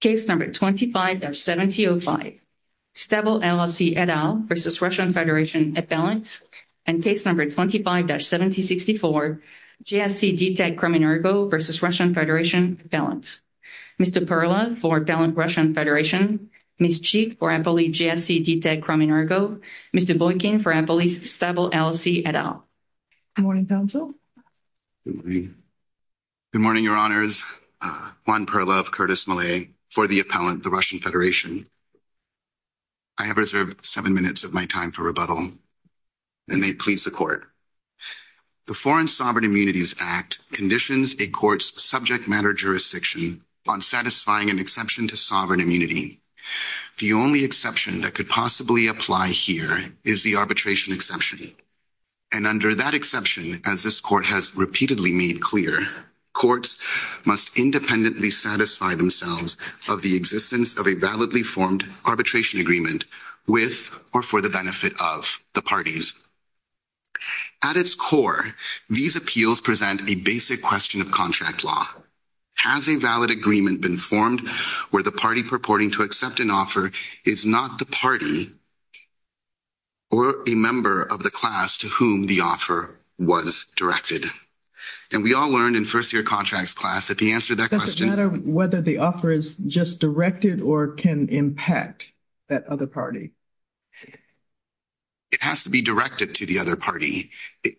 Case No. 25-7005 Stabil LLC et al. v. Russian Federation et bal. Case No. 25-7064 GSC DTEC Crimin Ergo v. Russian Federation et bal. Mr. Perlov v. Russian Federation et bal. Ms. Cheek v. Empoli GSC DTEC Crimin Ergo. Mr. Boykin v. Empoli Stabil LLC et al. Good morning, Council. Good morning. Good morning, Your Honors. Juan Perlov, Curtis Malay for the appellant, the Russian Federation. I have reserved seven minutes of my time for rebuttal, and may it please the Court. The Foreign Sovereign Immunities Act conditions a court's subject matter jurisdiction on satisfying an exception to sovereign immunity. The only exception that could possibly apply here is the arbitration exception. And under that exception, as this Court has repeatedly made clear, courts must independently satisfy themselves of the existence of a validly formed arbitration agreement with or for the benefit of the parties. At its core, these appeals present a basic question of contract law. Has a valid agreement been formed where the party purporting to accept an offer is not the party or a member of the class to whom the offer was directed? And we all learned in first-year contracts class that the answer to that question— Does it matter whether the offer is just directed or can impact that other party? It has to be directed to the other party.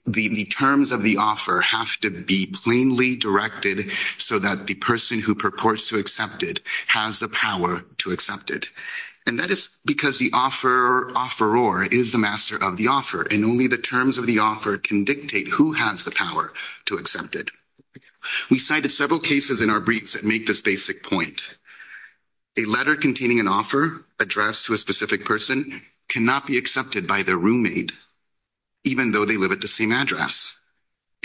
The terms of the offer have to be plainly directed so that the person who purports to accept it has the power to accept it. And that is because the offeror is the master of the offer, and only the terms of the offer can dictate who has the power to accept it. We cited several cases in our briefs that make this basic point. A letter containing an offer addressed to a specific person cannot be accepted by their roommate, even though they live at the same address.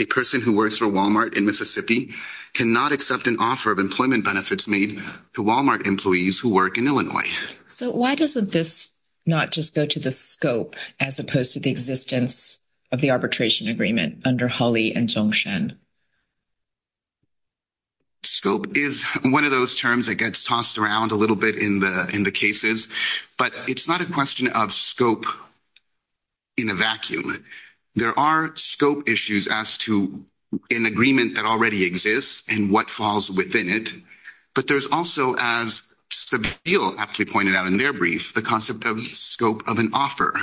A person who works for Walmart in Mississippi cannot accept an offer of employment benefits made to Walmart employees who work in Illinois. So why doesn't this not just go to the scope as opposed to the existence of the arbitration agreement under Hawley and Zhongshan? Scope is one of those terms that gets tossed around a little bit in the cases. But it's not a question of scope in a vacuum. There are scope issues as to an agreement that already exists and what falls within it. But there's also, as Sebille aptly pointed out in their brief, the concept of scope of an offer.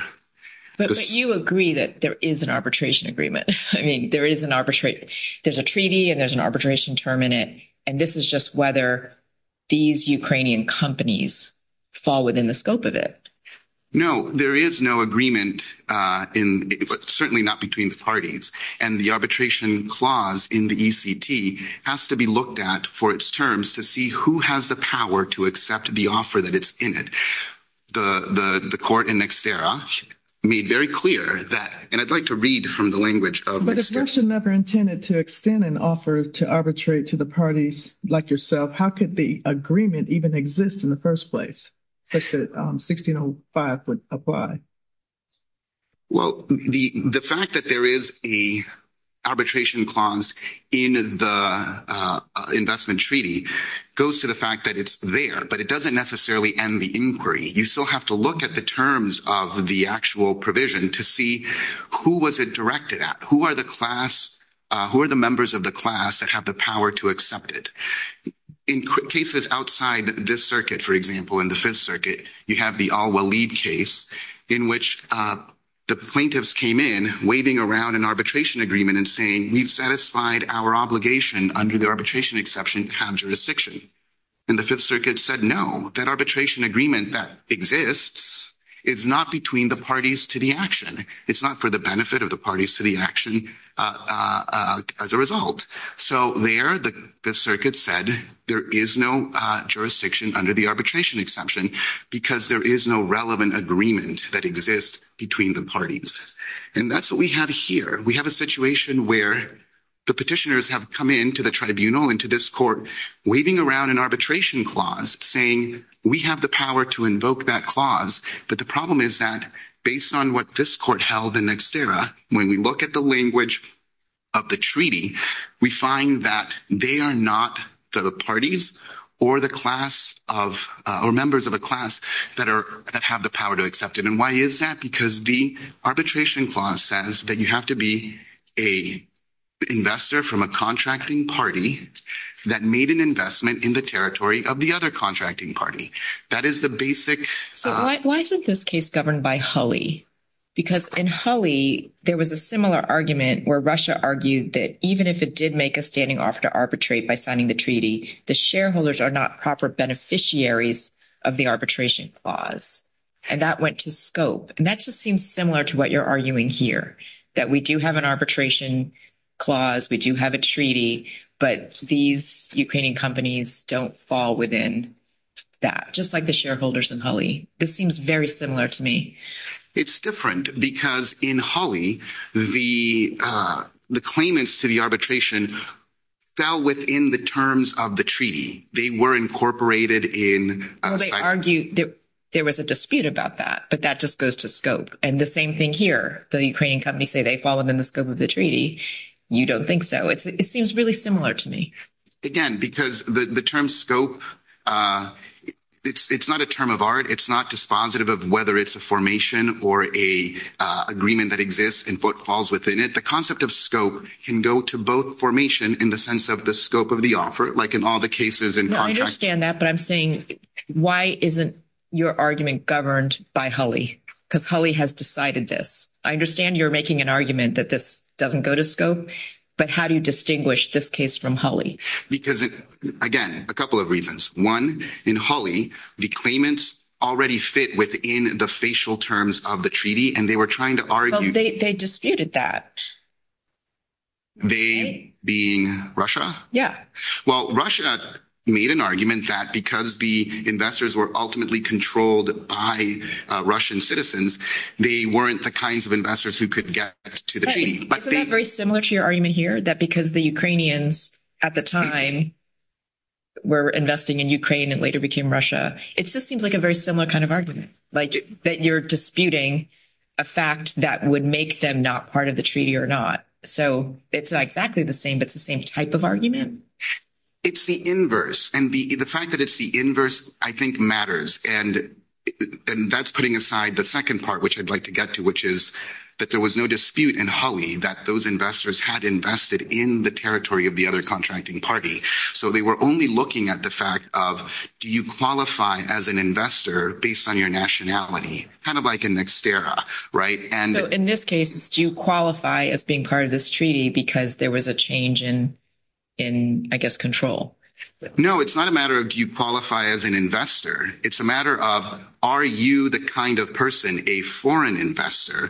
But you agree that there is an arbitration agreement. There's a treaty and there's an arbitration term in it. And this is just whether these Ukrainian companies fall within the scope of it. No, there is no agreement, certainly not between the parties. And the arbitration clause in the ECT has to be looked at for its terms to see who has the power to accept the offer that is in it. The court in Nextera made very clear that, and I'd like to read from the language of Nextera. But if Russia never intended to extend an offer to arbitrate to the parties like yourself, how could the agreement even exist in the first place such that 1605 would apply? Well, the fact that there is a arbitration clause in the investment treaty goes to the fact that it's there. But it doesn't necessarily end the inquiry. You still have to look at the terms of the actual provision to see who was it directed at. Who are the members of the class that have the power to accept it? In cases outside this circuit, for example, in the Fifth Circuit, you have the Al-Walid case in which the plaintiffs came in waving around an arbitration agreement and saying, we've satisfied our obligation under the arbitration exception to have jurisdiction. And the Fifth Circuit said, no, that arbitration agreement that exists is not between the parties to the action. It's not for the benefit of the parties to the action as a result. So there, the Circuit said there is no jurisdiction under the arbitration exception because there is no relevant agreement that exists between the parties. And that's what we have here. We have a situation where the petitioners have come into the tribunal, into this court, waving around an arbitration clause, saying we have the power to invoke that clause. But the problem is that based on what this court held in Nexterra, when we look at the language of the treaty, we find that they are not the parties or the class of – or members of a class that are – that have the power to accept it. And why is that? Because the arbitration clause says that you have to be an investor from a contracting party that made an investment in the territory of the other contracting party. That is the basic – So why isn't this case governed by Hulley? Because in Hulley, there was a similar argument where Russia argued that even if it did make a standing offer to arbitrate by signing the treaty, the shareholders are not proper beneficiaries of the arbitration clause. And that went to scope. And that just seems similar to what you're arguing here, that we do have an arbitration clause, we do have a treaty, but these Ukrainian companies don't fall within that, just like the shareholders in Hulley. This seems very similar to me. It's different because in Hulley, the claimants to the arbitration fell within the terms of the treaty. They were incorporated in – Hulley argued that there was a dispute about that, but that just goes to scope. And the same thing here. The Ukrainian companies say they fall within the scope of the treaty. You don't think so. It seems really similar to me. Again, because the term scope, it's not a term of art. It's not dispositive of whether it's a formation or a agreement that exists and what falls within it. The concept of scope can go to both formation in the sense of the scope of the offer, like in all the cases in contracts. I understand that, but I'm saying why isn't your argument governed by Hulley? Because Hulley has decided this. I understand you're making an argument that this doesn't go to scope, but how do you distinguish this case from Hulley? Because, again, a couple of reasons. One, in Hulley, the claimants already fit within the facial terms of the treaty, and they were trying to argue – Well, they disputed that. They being Russia? Yeah. Well, Russia made an argument that because the investors were ultimately controlled by Russian citizens, they weren't the kinds of investors who could get to the treaty. Isn't that very similar to your argument here, that because the Ukrainians at the time were investing in Ukraine and later became Russia? It just seems like a very similar kind of argument, like that you're disputing a fact that would make them not part of the treaty or not. So it's not exactly the same, but it's the same type of argument? It's the inverse. And the fact that it's the inverse, I think, matters. And that's putting aside the second part, which I'd like to get to, which is that there was no dispute in Hulley that those investors had invested in the territory of the other contracting party. So they were only looking at the fact of do you qualify as an investor based on your nationality, kind of like an exterra, right? So in this case, do you qualify as being part of this treaty because there was a change in, I guess, control? No, it's not a matter of do you qualify as an investor? It's a matter of are you the kind of person, a foreign investor,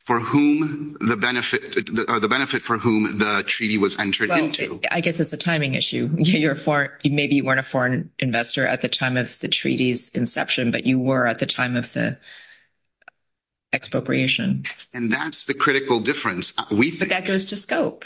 for whom the benefit or the benefit for whom the treaty was entered into? I guess it's a timing issue. Maybe you weren't a foreign investor at the time of the treaty's inception, but you were at the time of the expropriation. And that's the critical difference. But that goes to scope.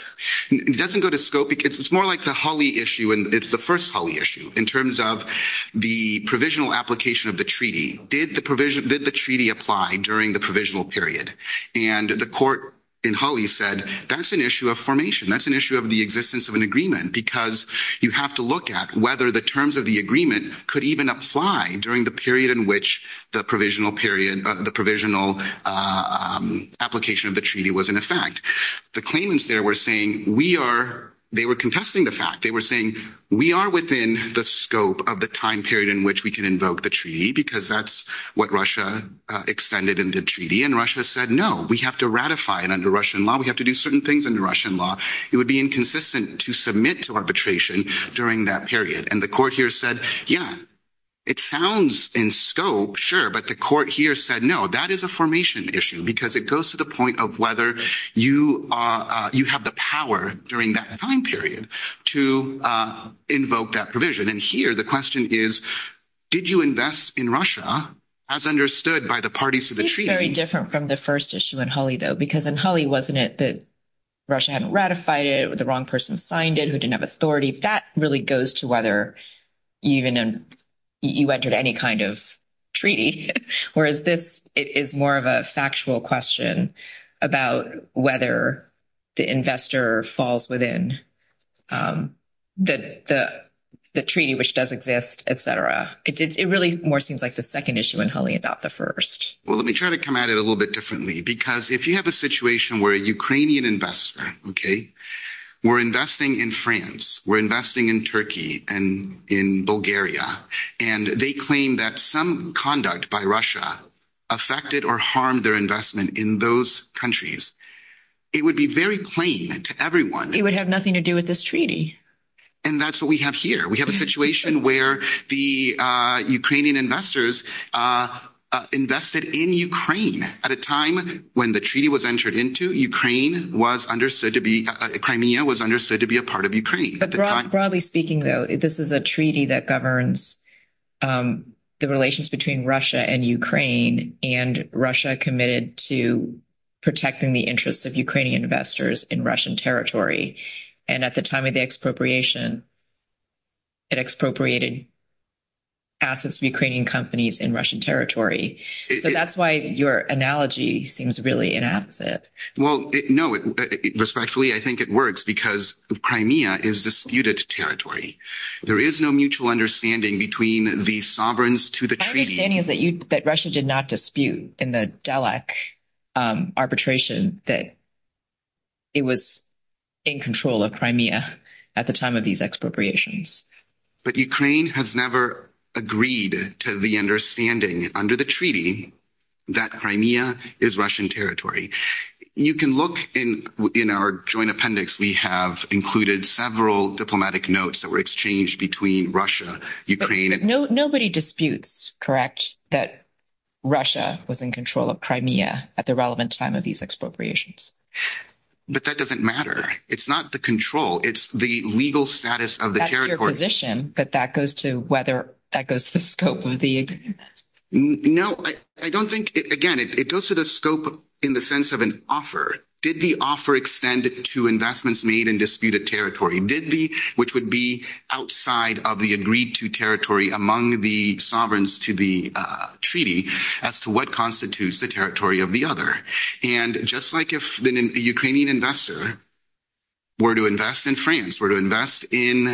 It doesn't go to scope because it's more like the Hulley issue. And it's the first Hulley issue in terms of the provisional application of the treaty. Did the treaty apply during the provisional period? And the court in Hulley said that's an issue of formation. That's an issue of the existence of an agreement because you have to look at whether the terms of the agreement could even apply during the period in which the provisional period, the provisional application of the treaty was in effect. The claimants there were saying we are—they were contesting the fact. They were saying we are within the scope of the time period in which we can invoke the treaty because that's what Russia extended in the treaty. And Russia said, no, we have to ratify it under Russian law. We have to do certain things under Russian law. It would be inconsistent to submit to arbitration during that period. And the court here said, yeah, it sounds in scope, sure. But the court here said, no, that is a formation issue because it goes to the point of whether you have the power during that time period to invoke that provision. And here the question is did you invest in Russia as understood by the parties to the treaty? That's very different from the first issue in Hulley, though, because in Hulley, wasn't it that Russia hadn't ratified it, the wrong person signed it, who didn't have authority? That really goes to whether you even—you entered any kind of treaty, whereas this is more of a factual question about whether the investor falls within the treaty, which does exist, et cetera. It really more seems like the second issue in Hulley and not the first. Well, let me try to come at it a little bit differently, because if you have a situation where a Ukrainian investor, OK, were investing in France, were investing in Turkey and in Bulgaria, and they claim that some conduct by Russia affected or harmed their investment in those countries, it would be very plain to everyone. It would have nothing to do with this treaty. And that's what we have here. We have a situation where the Ukrainian investors invested in Ukraine at a time when the treaty was entered into. Ukraine was understood to be—Crimea was understood to be a part of Ukraine. But broadly speaking, though, this is a treaty that governs the relations between Russia and Ukraine, and Russia committed to protecting the interests of Ukrainian investors in Russian territory. And at the time of the expropriation, it expropriated assets of Ukrainian companies in Russian territory. So that's why your analogy seems really inaccurate. Well, no. Respectfully, I think it works, because Crimea is disputed territory. There is no mutual understanding between the sovereigns to the treaty. My understanding is that Russia did not dispute in the Dalek arbitration that it was in control of Crimea at the time of these expropriations. But Ukraine has never agreed to the understanding under the treaty that Crimea is Russian territory. You can look in our joint appendix. We have included several diplomatic notes that were exchanged between Russia, Ukraine. Nobody disputes, correct, that Russia was in control of Crimea at the relevant time of these expropriations. But that doesn't matter. It's not the control. It's the legal status of the territory. That's your position, but that goes to whether—that goes to the scope of the agreement. No, I don't think—again, it goes to the scope in the sense of an offer. Did the offer extend to investments made in disputed territory? Did the—which would be outside of the agreed-to territory among the sovereigns to the treaty as to what constitutes the territory of the other? And just like if a Ukrainian investor were to invest in France, were to invest in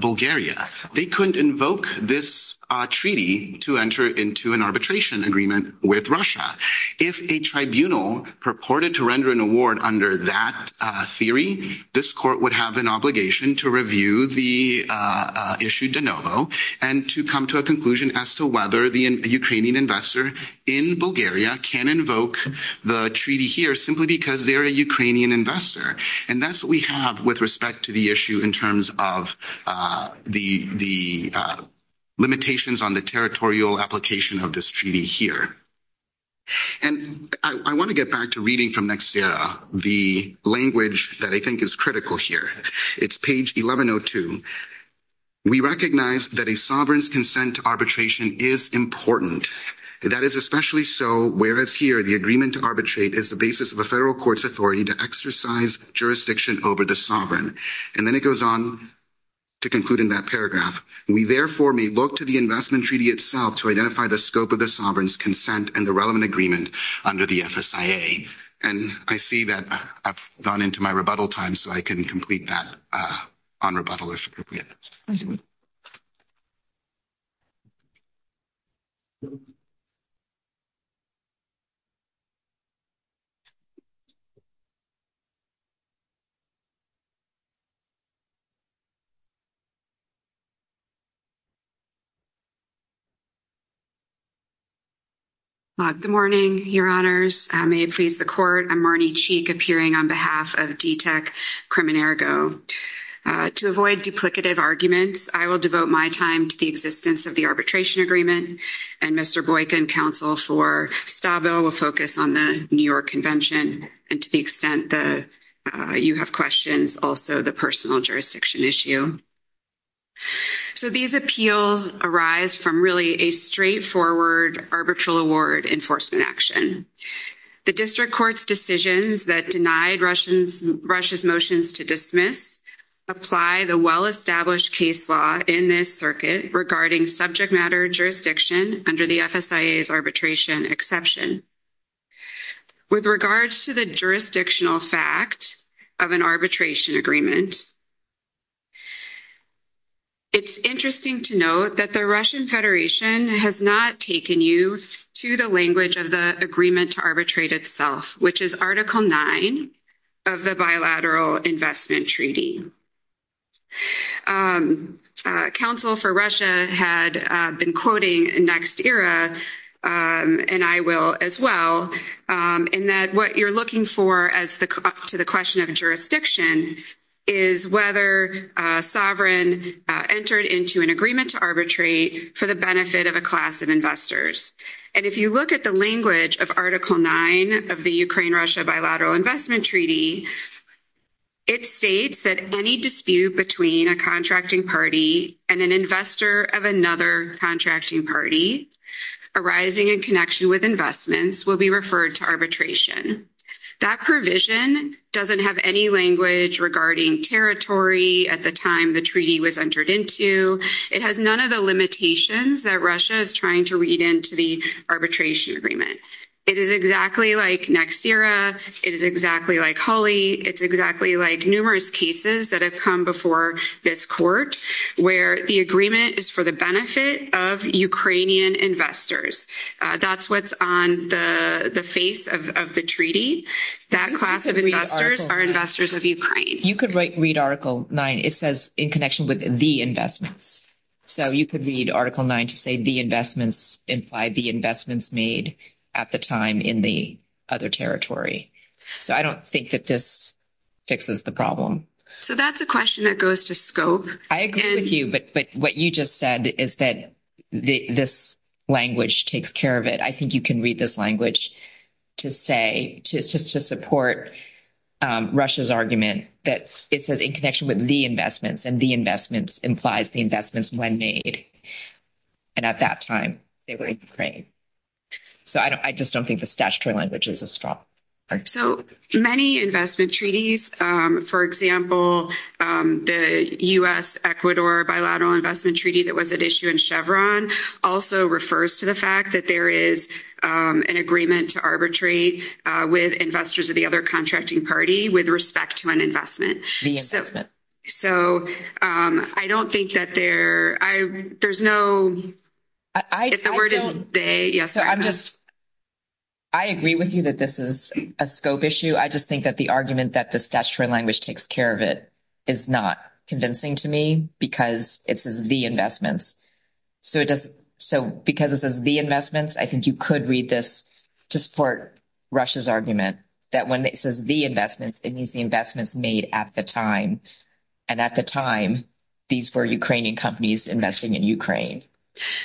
Bulgaria, they couldn't invoke this treaty to enter into an arbitration agreement with Russia. If a tribunal purported to render an award under that theory, this court would have an obligation to review the issue de novo and to come to a conclusion as to whether the Ukrainian investor in Bulgaria can invoke the treaty here simply because they're a Ukrainian investor. And that's what we have with respect to the issue in terms of the limitations on the territorial application of this treaty here. And I want to get back to reading from Nextera, the language that I think is critical here. It's page 1102. We recognize that a sovereign's consent to arbitration is important. That is especially so whereas here the agreement to arbitrate is the basis of a federal court's authority to exercise jurisdiction over the sovereign. And then it goes on to conclude in that paragraph. We therefore may look to the investment treaty itself to identify the scope of the sovereign's consent and the relevant agreement under the FSIA. And I see that I've gone into my rebuttal time, so I can complete that on rebuttal if appropriate. Thank you. Good morning, Your Honors. May it please the court. I'm Marnie Cheek, appearing on behalf of DTAC Criminergo. To avoid duplicative arguments, I will devote my time to the existence of the arbitration agreement. And Mr. Boykin, counsel for Stabo, will focus on the New York Convention. And to the extent that you have questions, also the personal jurisdiction issue. So these appeals arise from really a straightforward arbitral award enforcement action. The district court's decisions that denied Russia's motions to dismiss apply the well-established case law in this circuit regarding subject matter jurisdiction under the FSIA's arbitration exception. With regards to the jurisdictional fact of an arbitration agreement, it's interesting to note that the Russian Federation has not taken you to the language of the agreement to arbitrate itself, which is Article 9 of the Bilateral Investment Treaty. Counsel for Russia had been quoting NextEra, and I will as well, in that what you're looking for to the question of jurisdiction is whether a sovereign entered into an agreement to arbitrate for the benefit of a class of investors. And if you look at the language of Article 9 of the Ukraine-Russia Bilateral Investment Treaty, it states that any dispute between a contracting party and an investor of another contracting party arising in connection with investments will be referred to arbitration. That provision doesn't have any language regarding territory at the time the treaty was entered into. It has none of the limitations that Russia is trying to read into the arbitration agreement. It is exactly like NextEra. It is exactly like Hulley. It's exactly like numerous cases that have come before this court where the agreement is for the benefit of Ukrainian investors. That's what's on the face of the treaty. That class of investors are investors of Ukraine. You could read Article 9. It says in connection with the investments. So you could read Article 9 to say the investments imply the investments made at the time in the other territory. So I don't think that this fixes the problem. So that's a question that goes to scope. I agree with you, but what you just said is that this language takes care of it. I think you can read this language to say just to support Russia's argument that it says in connection with the investments and the investments implies the investments when made. And at that time, they were in Ukraine. So I just don't think the statutory language is as strong. So many investment treaties, for example, the U.S.-Ecuador Bilateral Investment Treaty that was at issue in Chevron also refers to the fact that there is an agreement to arbitrate with investors of the other contracting party with respect to an investment. So I don't think that there's no ‑‑ if the word is they. I agree with you that this is a scope issue. I just think that the argument that the statutory language takes care of it is not convincing to me because it says the investments. So because it says the investments, I think you could read this to support Russia's argument that when it says the investments, it means the investments made at the time. And at the time, these were Ukrainian companies investing in Ukraine.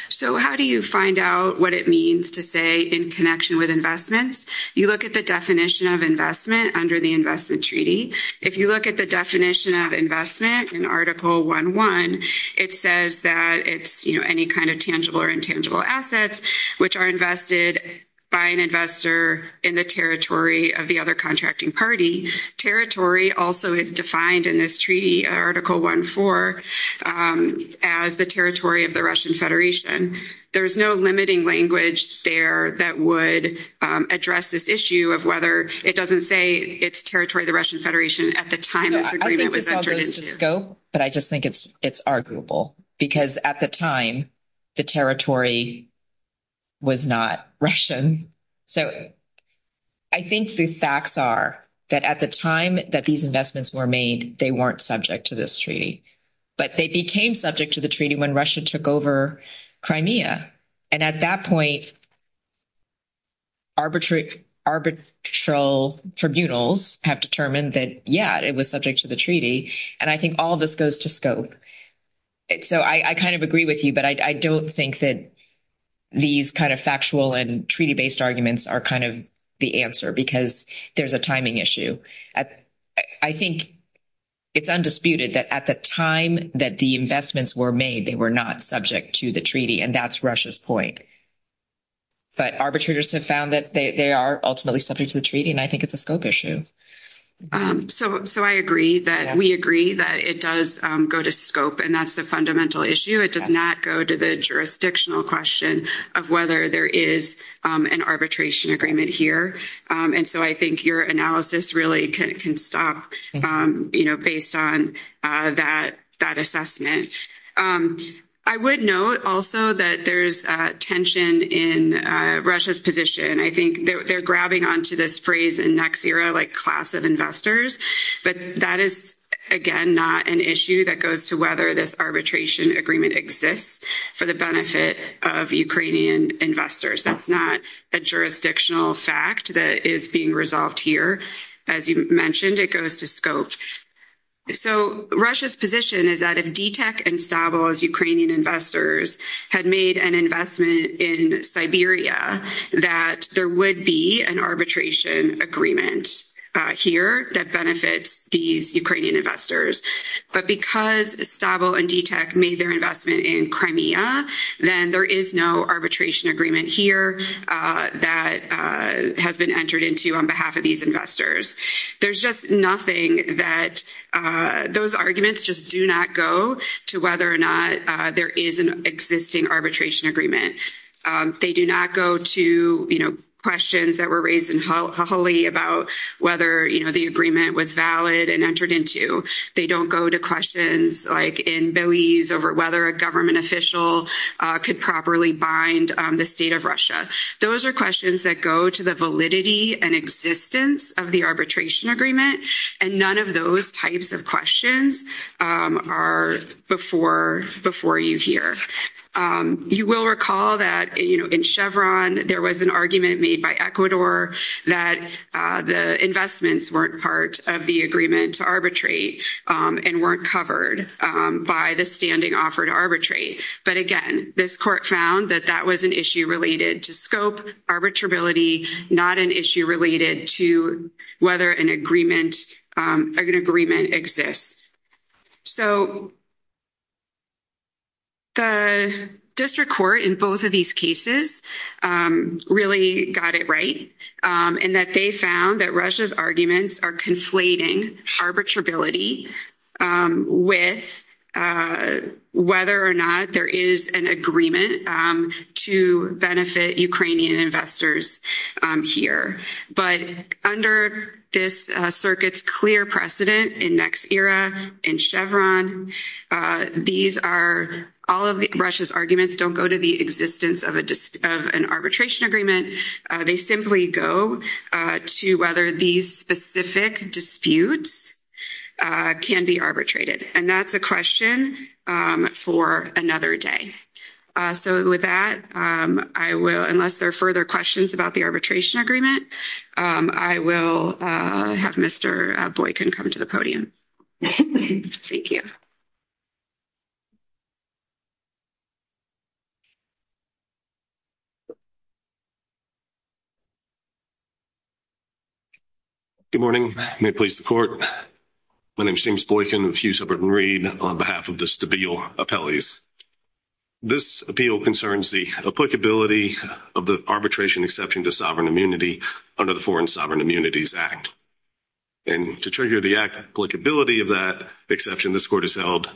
So how do you find out what it means to say in connection with investments? You look at the definition of investment under the investment treaty. If you look at the definition of investment in Article 1.1, it says that it's, you know, any kind of tangible or intangible assets which are invested by an investor in the territory of the other contracting party. Territory also is defined in this treaty, Article 1.4, as the territory of the Russian Federation. There's no limiting language there that would address this issue of whether it doesn't say it's territory of the Russian Federation at the time this agreement was entered into. I think it's all goes to scope, but I just think it's arguable because at the time, the territory was not Russian. So I think the facts are that at the time that these investments were made, they weren't subject to this treaty, but they became subject to the treaty when Russia took over Crimea. And at that point, arbitral tribunals have determined that, yeah, it was subject to the treaty. And I think all of this goes to scope. So I kind of agree with you, but I don't think that these kind of factual and treaty-based arguments are kind of the answer because there's a timing issue. I think it's undisputed that at the time that the investments were made, they were not subject to the treaty, and that's Russia's point. But arbitrators have found that they are ultimately subject to the treaty, and I think it's a scope issue. So I agree that we agree that it does go to scope, and that's the fundamental issue. It does not go to the jurisdictional question of whether there is an arbitration agreement here. And so I think your analysis really can stop based on that assessment. I would note also that there's tension in Russia's position. I think they're grabbing onto this phrase in next era, like class of investors. But that is, again, not an issue that goes to whether this arbitration agreement exists for the benefit of Ukrainian investors. That's not a jurisdictional fact that is being resolved here. As you mentioned, it goes to scope. So Russia's position is that if DTEK and Stabil as Ukrainian investors had made an investment in Siberia, that there would be an arbitration agreement here that benefits these Ukrainian investors. But because Stabil and DTEK made their investment in Crimea, then there is no arbitration agreement here that has been entered into on behalf of these investors. There's just nothing that those arguments just do not go to whether or not there is an existing arbitration agreement. They do not go to, you know, questions that were raised in Kholi about whether, you know, the agreement was valid and entered into. They don't go to questions like in Belize over whether a government official could properly bind the state of Russia. Those are questions that go to the validity and existence of the arbitration agreement, and none of those types of questions are before you here. You will recall that, you know, in Chevron, there was an argument made by Ecuador that the investments weren't part of the agreement to arbitrate and weren't covered by the standing offered arbitrate. But again, this court found that that was an issue related to scope, arbitrability, not an issue related to whether an agreement exists. So the district court in both of these cases really got it right, and that they found that Russia's arguments are conflating arbitrability with whether or not there is an agreement to benefit Ukrainian investors here. But under this circuit's clear precedent in NextEra, in Chevron, all of Russia's arguments don't go to the existence of an arbitration agreement. They simply go to whether these specific disputes can be arbitrated. And that's a question for another day. So with that, I will, unless there are further questions about the arbitration agreement, I will have Mr. Boykin come to the podium. Thank you. Good morning. May it please the court. My name is James Boykin of Hughes, Hubbard & Reed on behalf of the Stabile Appellees. This appeal concerns the applicability of the arbitration exception to sovereign immunity under the Foreign Sovereign Immunities Act. And to trigger the applicability of that exception, this court has held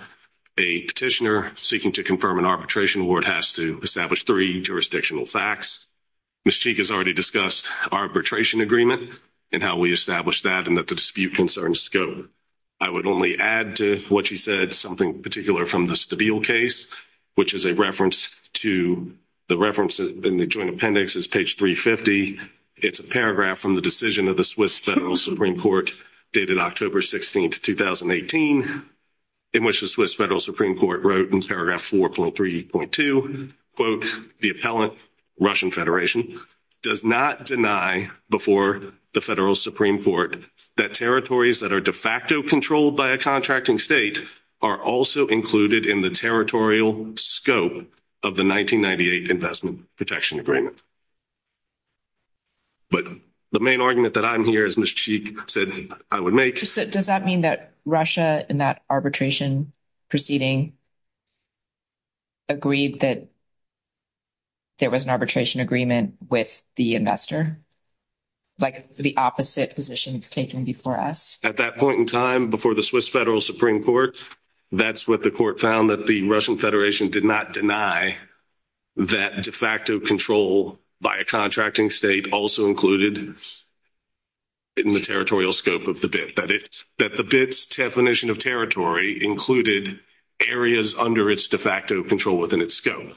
a petitioner seeking to confirm an arbitration award has to establish three jurisdictional facts. Ms. Cheek has already discussed arbitration agreement and how we establish that, and that the dispute concerns scope. I would only add to what she said something particular from the Stabile case, which is a reference to the reference in the joint appendix is page 350. It's a paragraph from the decision of the Swiss Federal Supreme Court dated October 16, 2018, in which the Swiss Federal Supreme Court wrote in paragraph 4.3.2, quote, the appellant, Russian Federation, does not deny before the Federal Supreme Court that territories that are de facto controlled by a contracting state are also included in the territorial scope of the 1998 Investment Protection Agreement. But the main argument that I'm here, as Ms. Cheek said, I would make. Does that mean that Russia in that arbitration proceeding agreed that there was an arbitration agreement with the investor? Like the opposite position was taken before us? At that point in time, before the Swiss Federal Supreme Court, that's what the court found, that the Russian Federation did not deny that de facto control by a contracting state also included in the territorial scope of the bid, that the bid's definition of territory included areas under its de facto control within its scope.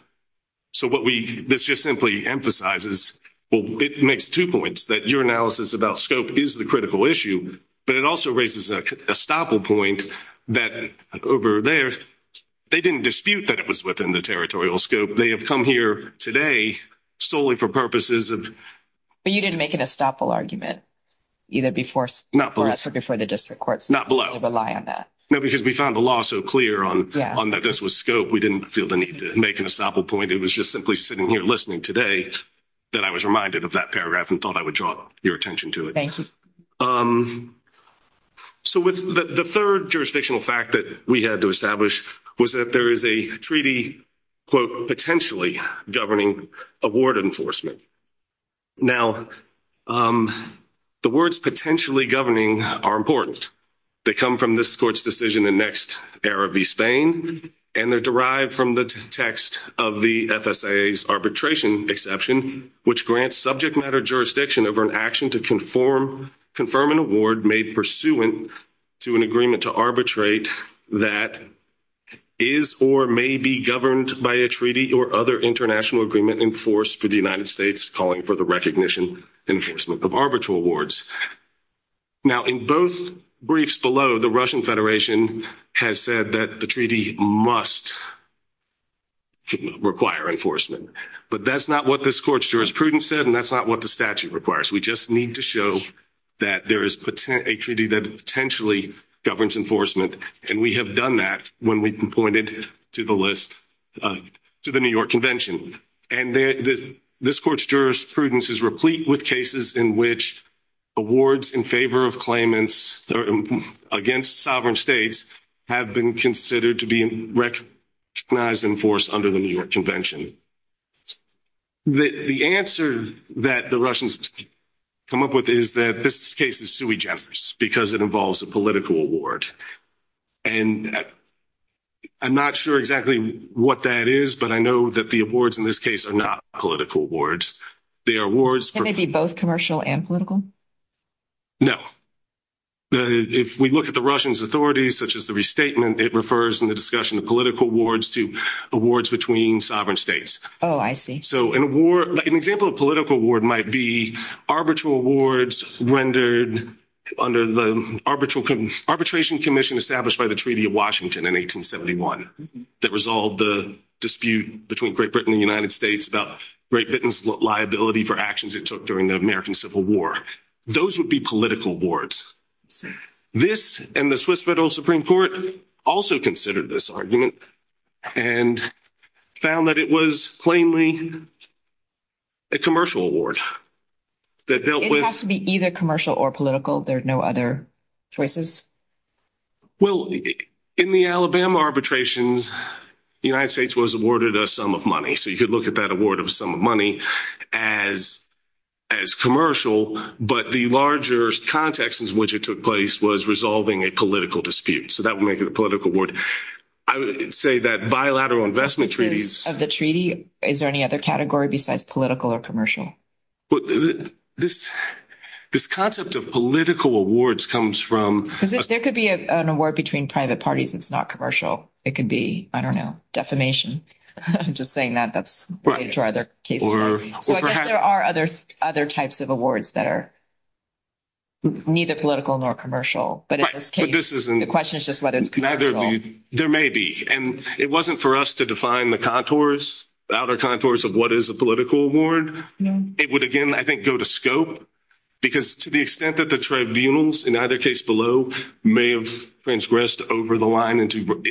So this just simply emphasizes, well, it makes two points, that your analysis about scope is the critical issue, but it also raises a stopple point that over there, they didn't dispute that it was within the territorial scope. They have come here today solely for purposes of. But you didn't make an estoppel argument either before us or before the district courts. Not below. You didn't rely on that. No, because we found the law so clear on that this was scope, we didn't feel the need to make an estoppel point. It was just simply sitting here listening today that I was reminded of that paragraph and thought I would draw your attention to it. Thank you. So the third jurisdictional fact that we had to establish was that there is a treaty, quote, potentially governing a ward enforcement. Now, the words potentially governing are important. They come from this court's decision in Next Era v. Spain, and they're derived from the text of the FSAA's arbitration exception, which grants subject matter jurisdiction over an action to confirm an award made pursuant to an agreement to arbitrate that is or may be governed by a treaty or other international agreement enforced for the United States, calling for the recognition and enforcement of arbitral awards. Now, in both briefs below, the Russian Federation has said that the treaty must require enforcement, but that's not what this court's jurisprudence said and that's not what the statute requires. We just need to show that there is a treaty that potentially governs enforcement, and we have done that when we pointed to the list to the New York Convention. And this court's jurisprudence is replete with cases in which awards in favor of claimants against sovereign states have been considered to be recognized and enforced under the New York Convention. The answer that the Russians come up with is that this case is sui generis because it involves a political award. And I'm not sure exactly what that is, but I know that the awards in this case are not political awards. They are awards for – Can they be both commercial and political? No. If we look at the Russians' authorities, such as the restatement, it refers in the discussion of political awards to awards between sovereign states. Oh, I see. So an example of a political award might be arbitral awards rendered under the Arbitration Commission established by the Treaty of Washington in 1871 that resolved the dispute between Great Britain and the United States about Great Britain's liability for actions it took during the American Civil War. Those would be political awards. This and the Swiss Federal Supreme Court also considered this argument and found that it was plainly a commercial award. It has to be either commercial or political. There are no other choices? Well, in the Alabama arbitrations, the United States was awarded a sum of money. So you could look at that award of a sum of money as commercial, but the larger context in which it took place was resolving a political dispute. So that would make it a political award. I would say that bilateral investment treaties – Of the treaty? Is there any other category besides political or commercial? This concept of political awards comes from – Because there could be an award between private parties that's not commercial. It could be, I don't know, defamation. I'm just saying that that's related to our other cases. So I guess there are other types of awards that are neither political nor commercial. But in this case, the question is just whether it's commercial. There may be. And it wasn't for us to define the contours, the outer contours of what is a political award. It would, again, I think go to scope because to the extent that the tribunals, in either case below, may have transgressed over the line into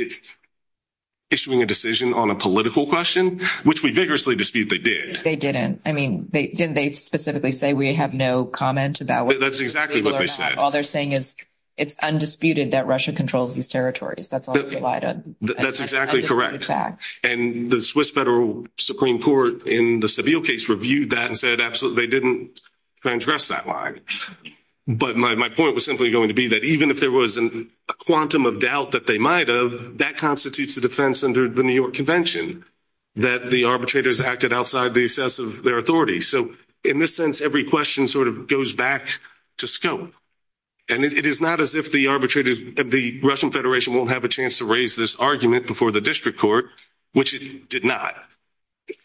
issuing a decision on a political question, which we vigorously dispute they did. They didn't. I mean, didn't they specifically say we have no comment about – That's exactly what they said. All they're saying is it's undisputed that Russia controls these territories. That's all they relied on. That's exactly correct. And the Swiss Federal Supreme Court in the Seville case reviewed that and said absolutely they didn't transgress that line. But my point was simply going to be that even if there was a quantum of doubt that they might have, that constitutes a defense under the New York Convention, that the arbitrators acted outside the assess of their authority. So in this sense, every question sort of goes back to scope. And it is not as if the Russian Federation won't have a chance to raise this argument before the district court, which it did not.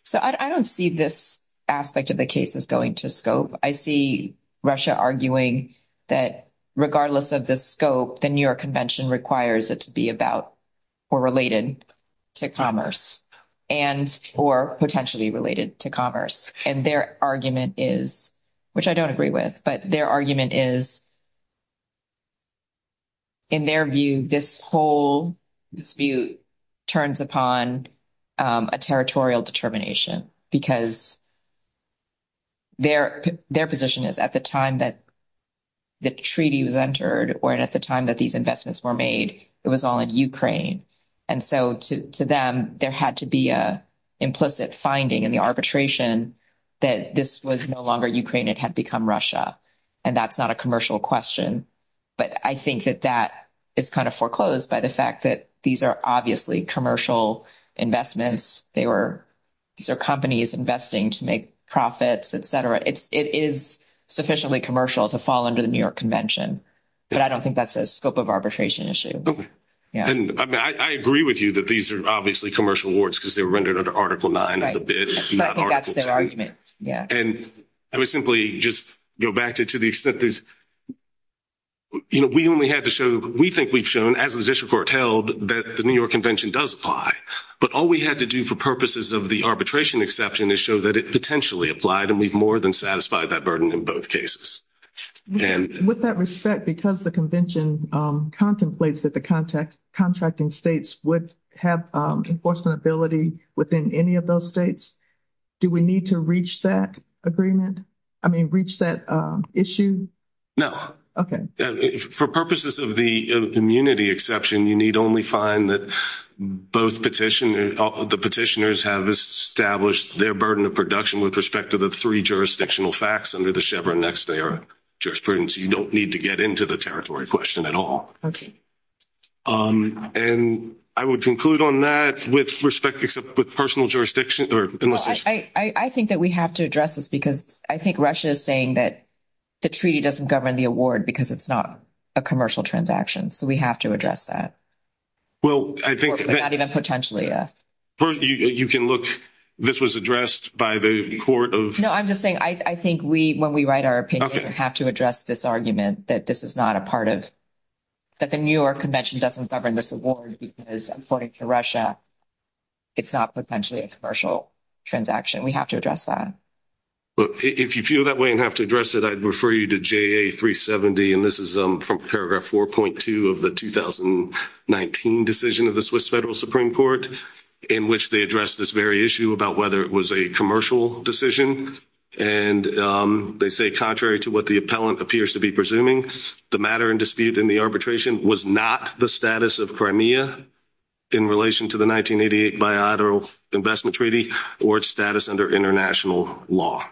So I don't see this aspect of the cases going to scope. I see Russia arguing that regardless of the scope, the New York Convention requires it to be about or related to commerce and or potentially related to commerce. And their argument is, which I don't agree with, but their argument is in their view this whole dispute turns upon a territorial determination because their position is at the time that the treaty was entered or at the time that these investments were made, it was all in Ukraine. And so to them, there had to be an implicit finding in the arbitration that this was no longer Ukraine. It had become Russia. And that's not a commercial question. But I think that that is kind of foreclosed by the fact that these are obviously commercial investments. These are companies investing to make profits, et cetera. It is sufficiently commercial to fall under the New York Convention. But I don't think that's a scope of arbitration issue. Okay. And I agree with you that these are obviously commercial awards because they were rendered under Article 9 of the bid, not Article 10. But I think that's their argument, yeah. And I would simply just go back to the extent there's – we only had to show – we think we've shown, as the district court held, that the New York Convention does apply. But all we had to do for purposes of the arbitration exception is show that it potentially applied, and we've more than satisfied that burden in both cases. With that respect, because the convention contemplates that the contracting states would have enforcement ability within any of those states, do we need to reach that agreement? I mean, reach that issue? No. Okay. For purposes of the immunity exception, you need only find that both petitioners – the petitioners have established their burden of production with respect to the three jurisdictional facts under the Chevron next-day jurisprudence. You don't need to get into the territory question at all. Okay. And I would conclude on that with respect – except with personal jurisdiction or – I think that we have to address this because I think Russia is saying that the treaty doesn't govern the award because it's not a commercial transaction. So we have to address that. Well, I think – Not even potentially. You can look – this was addressed by the court of – No, I'm just saying I think we, when we write our opinion, have to address this argument that this is not a part of – that the New York Convention doesn't govern this award because, according to Russia, it's not potentially a commercial transaction. We have to address that. If you feel that way and have to address it, I'd refer you to JA 370, and this is from paragraph 4.2 of the 2019 decision of the Swiss Federal Supreme Court in which they addressed this very issue about whether it was a commercial decision. And they say, contrary to what the appellant appears to be presuming, the matter in dispute in the arbitration was not the status of Crimea in relation to the 1988 bilateral investment treaty or its status under international law.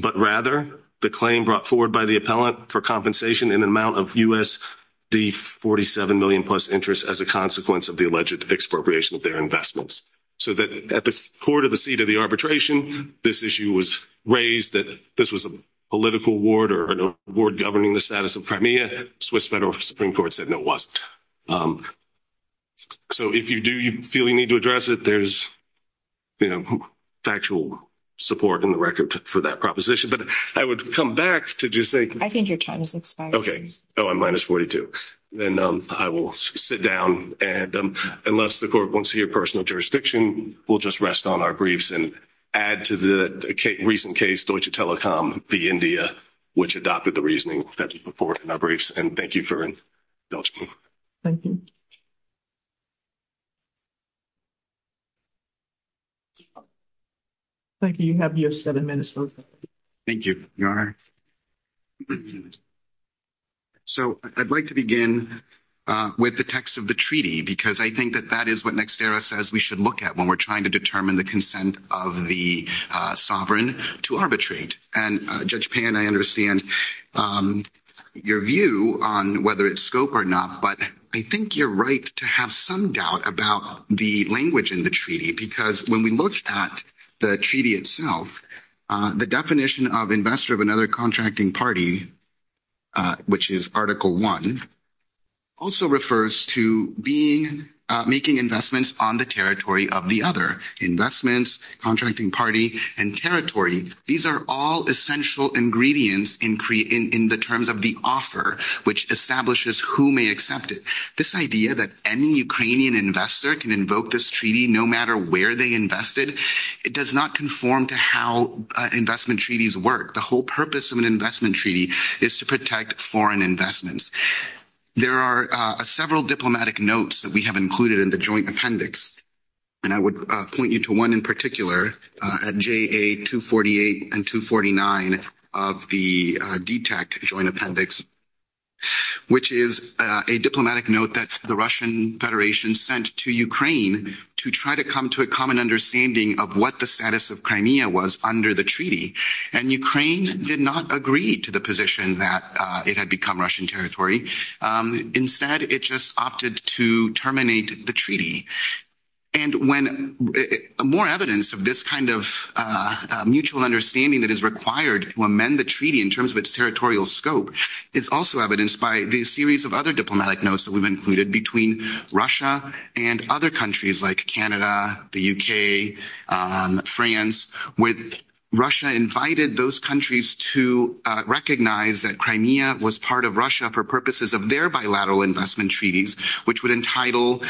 But rather, the claim brought forward by the appellant for compensation in an amount of USD 47 million plus interest as a consequence of the alleged expropriation of their investments. So that at the court of the seat of the arbitration, this issue was raised that this was a political award or an award governing the status of Crimea. Swiss Federal Supreme Court said no, it wasn't. So if you do feel you need to address it, there's factual support in the record for that proposition. But I would come back to just say— I think your time has expired. Okay. Oh, I'm minus 42. Then I will sit down, and unless the court wants to hear personal jurisdiction, we'll just rest on our briefs and add to the recent case, Deutsche Telekom v. India, which adopted the reasoning that you put forward in our briefs. And thank you for indulging me. Thank you. Thank you. You have your seven minutes. Thank you. So I'd like to begin with the text of the treaty, because I think that that is what Nextera says we should look at when we're trying to determine the consent of the sovereign to arbitrate. And, Judge Payne, I understand your view on whether it's scope or not, but I think you're right to have some doubt about the language in the treaty, because when we look at the treaty itself, the definition of investor of another contracting party, which is Article I, also refers to making investments on the territory of the other. Investments, contracting party, and territory, these are all essential ingredients in the terms of the offer, which establishes who may accept it. This idea that any Ukrainian investor can invoke this treaty no matter where they invested, it does not conform to how investment treaties work. The whole purpose of an investment treaty is to protect foreign investments. There are several diplomatic notes that we have included in the joint appendix, and I would point you to one in particular at JA248 and 249 of the DTAC joint appendix, which is a diplomatic note that the Russian Federation sent to Ukraine to try to come to a common understanding of what the status of Crimea was under the treaty. And Ukraine did not agree to the position that it had become Russian territory. Instead, it just opted to terminate the treaty. And when more evidence of this kind of mutual understanding that is required to amend the treaty in terms of its territorial scope is also evidenced by the series of other diplomatic notes that we've included between Russia and other countries like Canada, the UK, France, where Russia invited those countries to recognize that Crimea was part of Russia for purposes of their bilateral investment treaties, which would entitle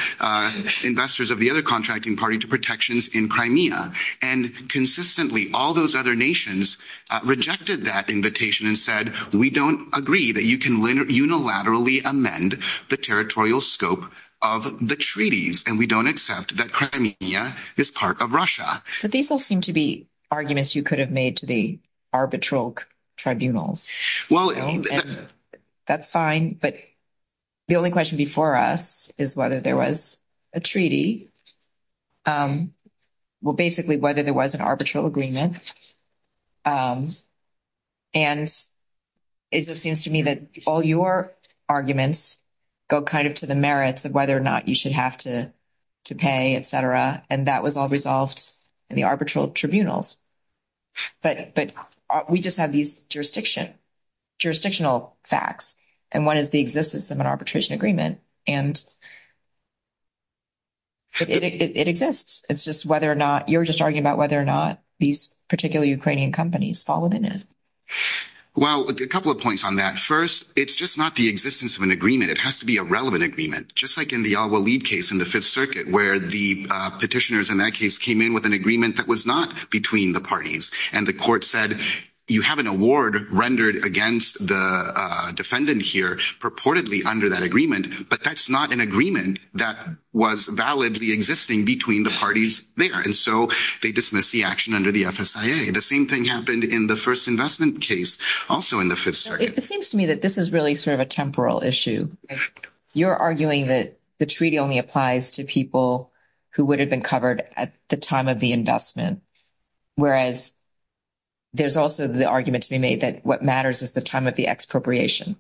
investors of the other contracting party to protections in Crimea. And consistently, all those other nations rejected that invitation and said, we don't agree that you can unilaterally amend the territorial scope of the treaties, and we don't accept that Crimea is part of Russia. So these all seem to be arguments you could have made to the arbitral tribunals. Well, that's fine. But the only question before us is whether there was a treaty. Well, basically, whether there was an arbitral agreement. And it just seems to me that all your arguments go kind of to the merits of whether or not you should have to pay, etc. And that was all resolved in the arbitral tribunals. But we just have these jurisdiction, jurisdictional facts. And one is the existence of an arbitration agreement. And it exists. It's just whether or not you're just arguing about whether or not these particular Ukrainian companies fall within it. Well, a couple of points on that. First, it's just not the existence of an agreement. It has to be a relevant agreement. Just like in the Al-Walid case in the Fifth Circuit where the petitioners in that case came in with an agreement that was not between the parties. And the court said you have an award rendered against the defendant here purportedly under that agreement. But that's not an agreement that was validly existing between the parties there. And so they dismissed the action under the FSIA. The same thing happened in the first investment case also in the Fifth Circuit. It seems to me that this is really sort of a temporal issue. You're arguing that the treaty only applies to people who would have been covered at the time of the investment. Whereas there's also the argument to be made that what matters is the time of the expropriation.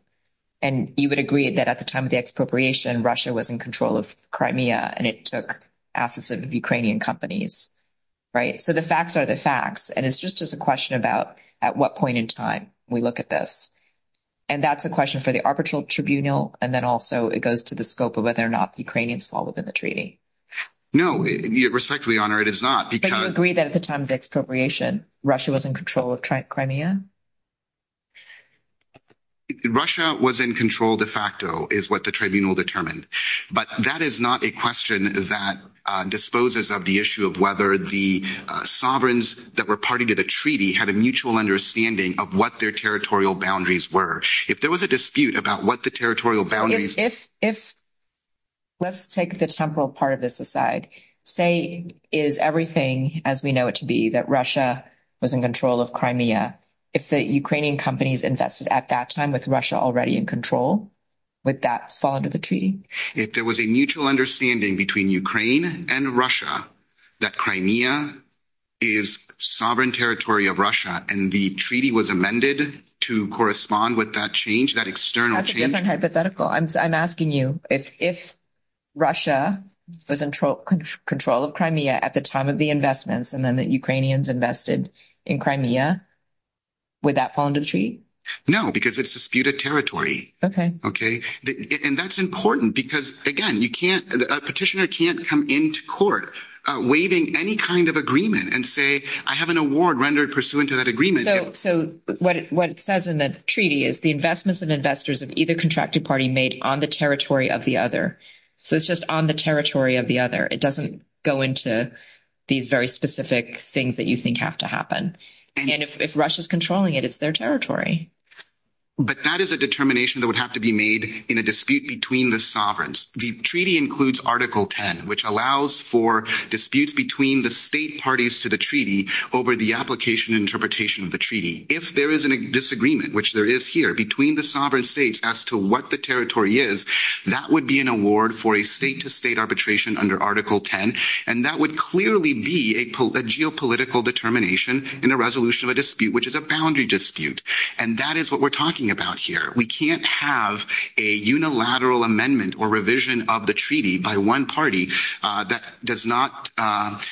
And you would agree that at the time of the expropriation, Russia was in control of Crimea, and it took assets of Ukrainian companies. Right? So the facts are the facts. And it's just a question about at what point in time we look at this. And that's a question for the arbitral tribunal. And then also it goes to the scope of whether or not the Ukrainians fall within the treaty. No, respectfully, Your Honor, it is not. But you agree that at the time of expropriation, Russia was in control of Crimea? Russia was in control de facto is what the tribunal determined. But that is not a question that disposes of the issue of whether the sovereigns that were party to the treaty had a mutual understanding of what their territorial boundaries were. If there was a dispute about what the territorial boundaries. Let's take the temporal part of this aside. Say is everything as we know it to be that Russia was in control of Crimea. If the Ukrainian companies invested at that time with Russia already in control, would that fall under the treaty? If there was a mutual understanding between Ukraine and Russia that Crimea is sovereign territory of Russia and the treaty was amended to correspond with that change, that external change. I'm asking you if Russia was in control of Crimea at the time of the investments and then the Ukrainians invested in Crimea, would that fall under the treaty? No, because it's disputed territory. Okay. Okay. And that's important because, again, you can't a petitioner can't come into court waiving any kind of agreement and say, I have an award rendered pursuant to that agreement. So what it says in the treaty is the investments of investors of either contracted party made on the territory of the other. So it's just on the territory of the other. It doesn't go into these very specific things that you think have to happen. And if Russia is controlling it, it's their territory. But that is a determination that would have to be made in a dispute between the sovereigns. The treaty includes Article 10, which allows for disputes between the state parties to the treaty over the application interpretation of the treaty. If there is a disagreement, which there is here between the sovereign states as to what the territory is, that would be an award for a state to state arbitration under Article 10. And that would clearly be a geopolitical determination in a resolution of a dispute, which is a boundary dispute. And that is what we're talking about here. We can't have a unilateral amendment or revision of the treaty by one party that does not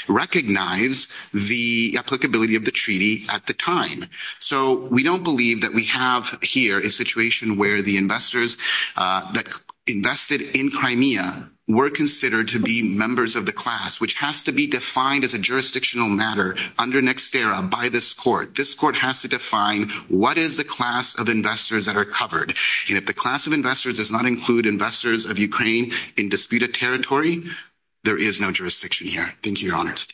recognize the applicability of the treaty at the time. So we don't believe that we have here a situation where the investors that invested in Crimea were considered to be members of the class, which has to be defined as a jurisdictional matter under Nextera by this court. This court has to define what is the class of investors that are covered. And if the class of investors does not include investors of Ukraine in disputed territory, there is no jurisdiction here. Thank you, Your Honors.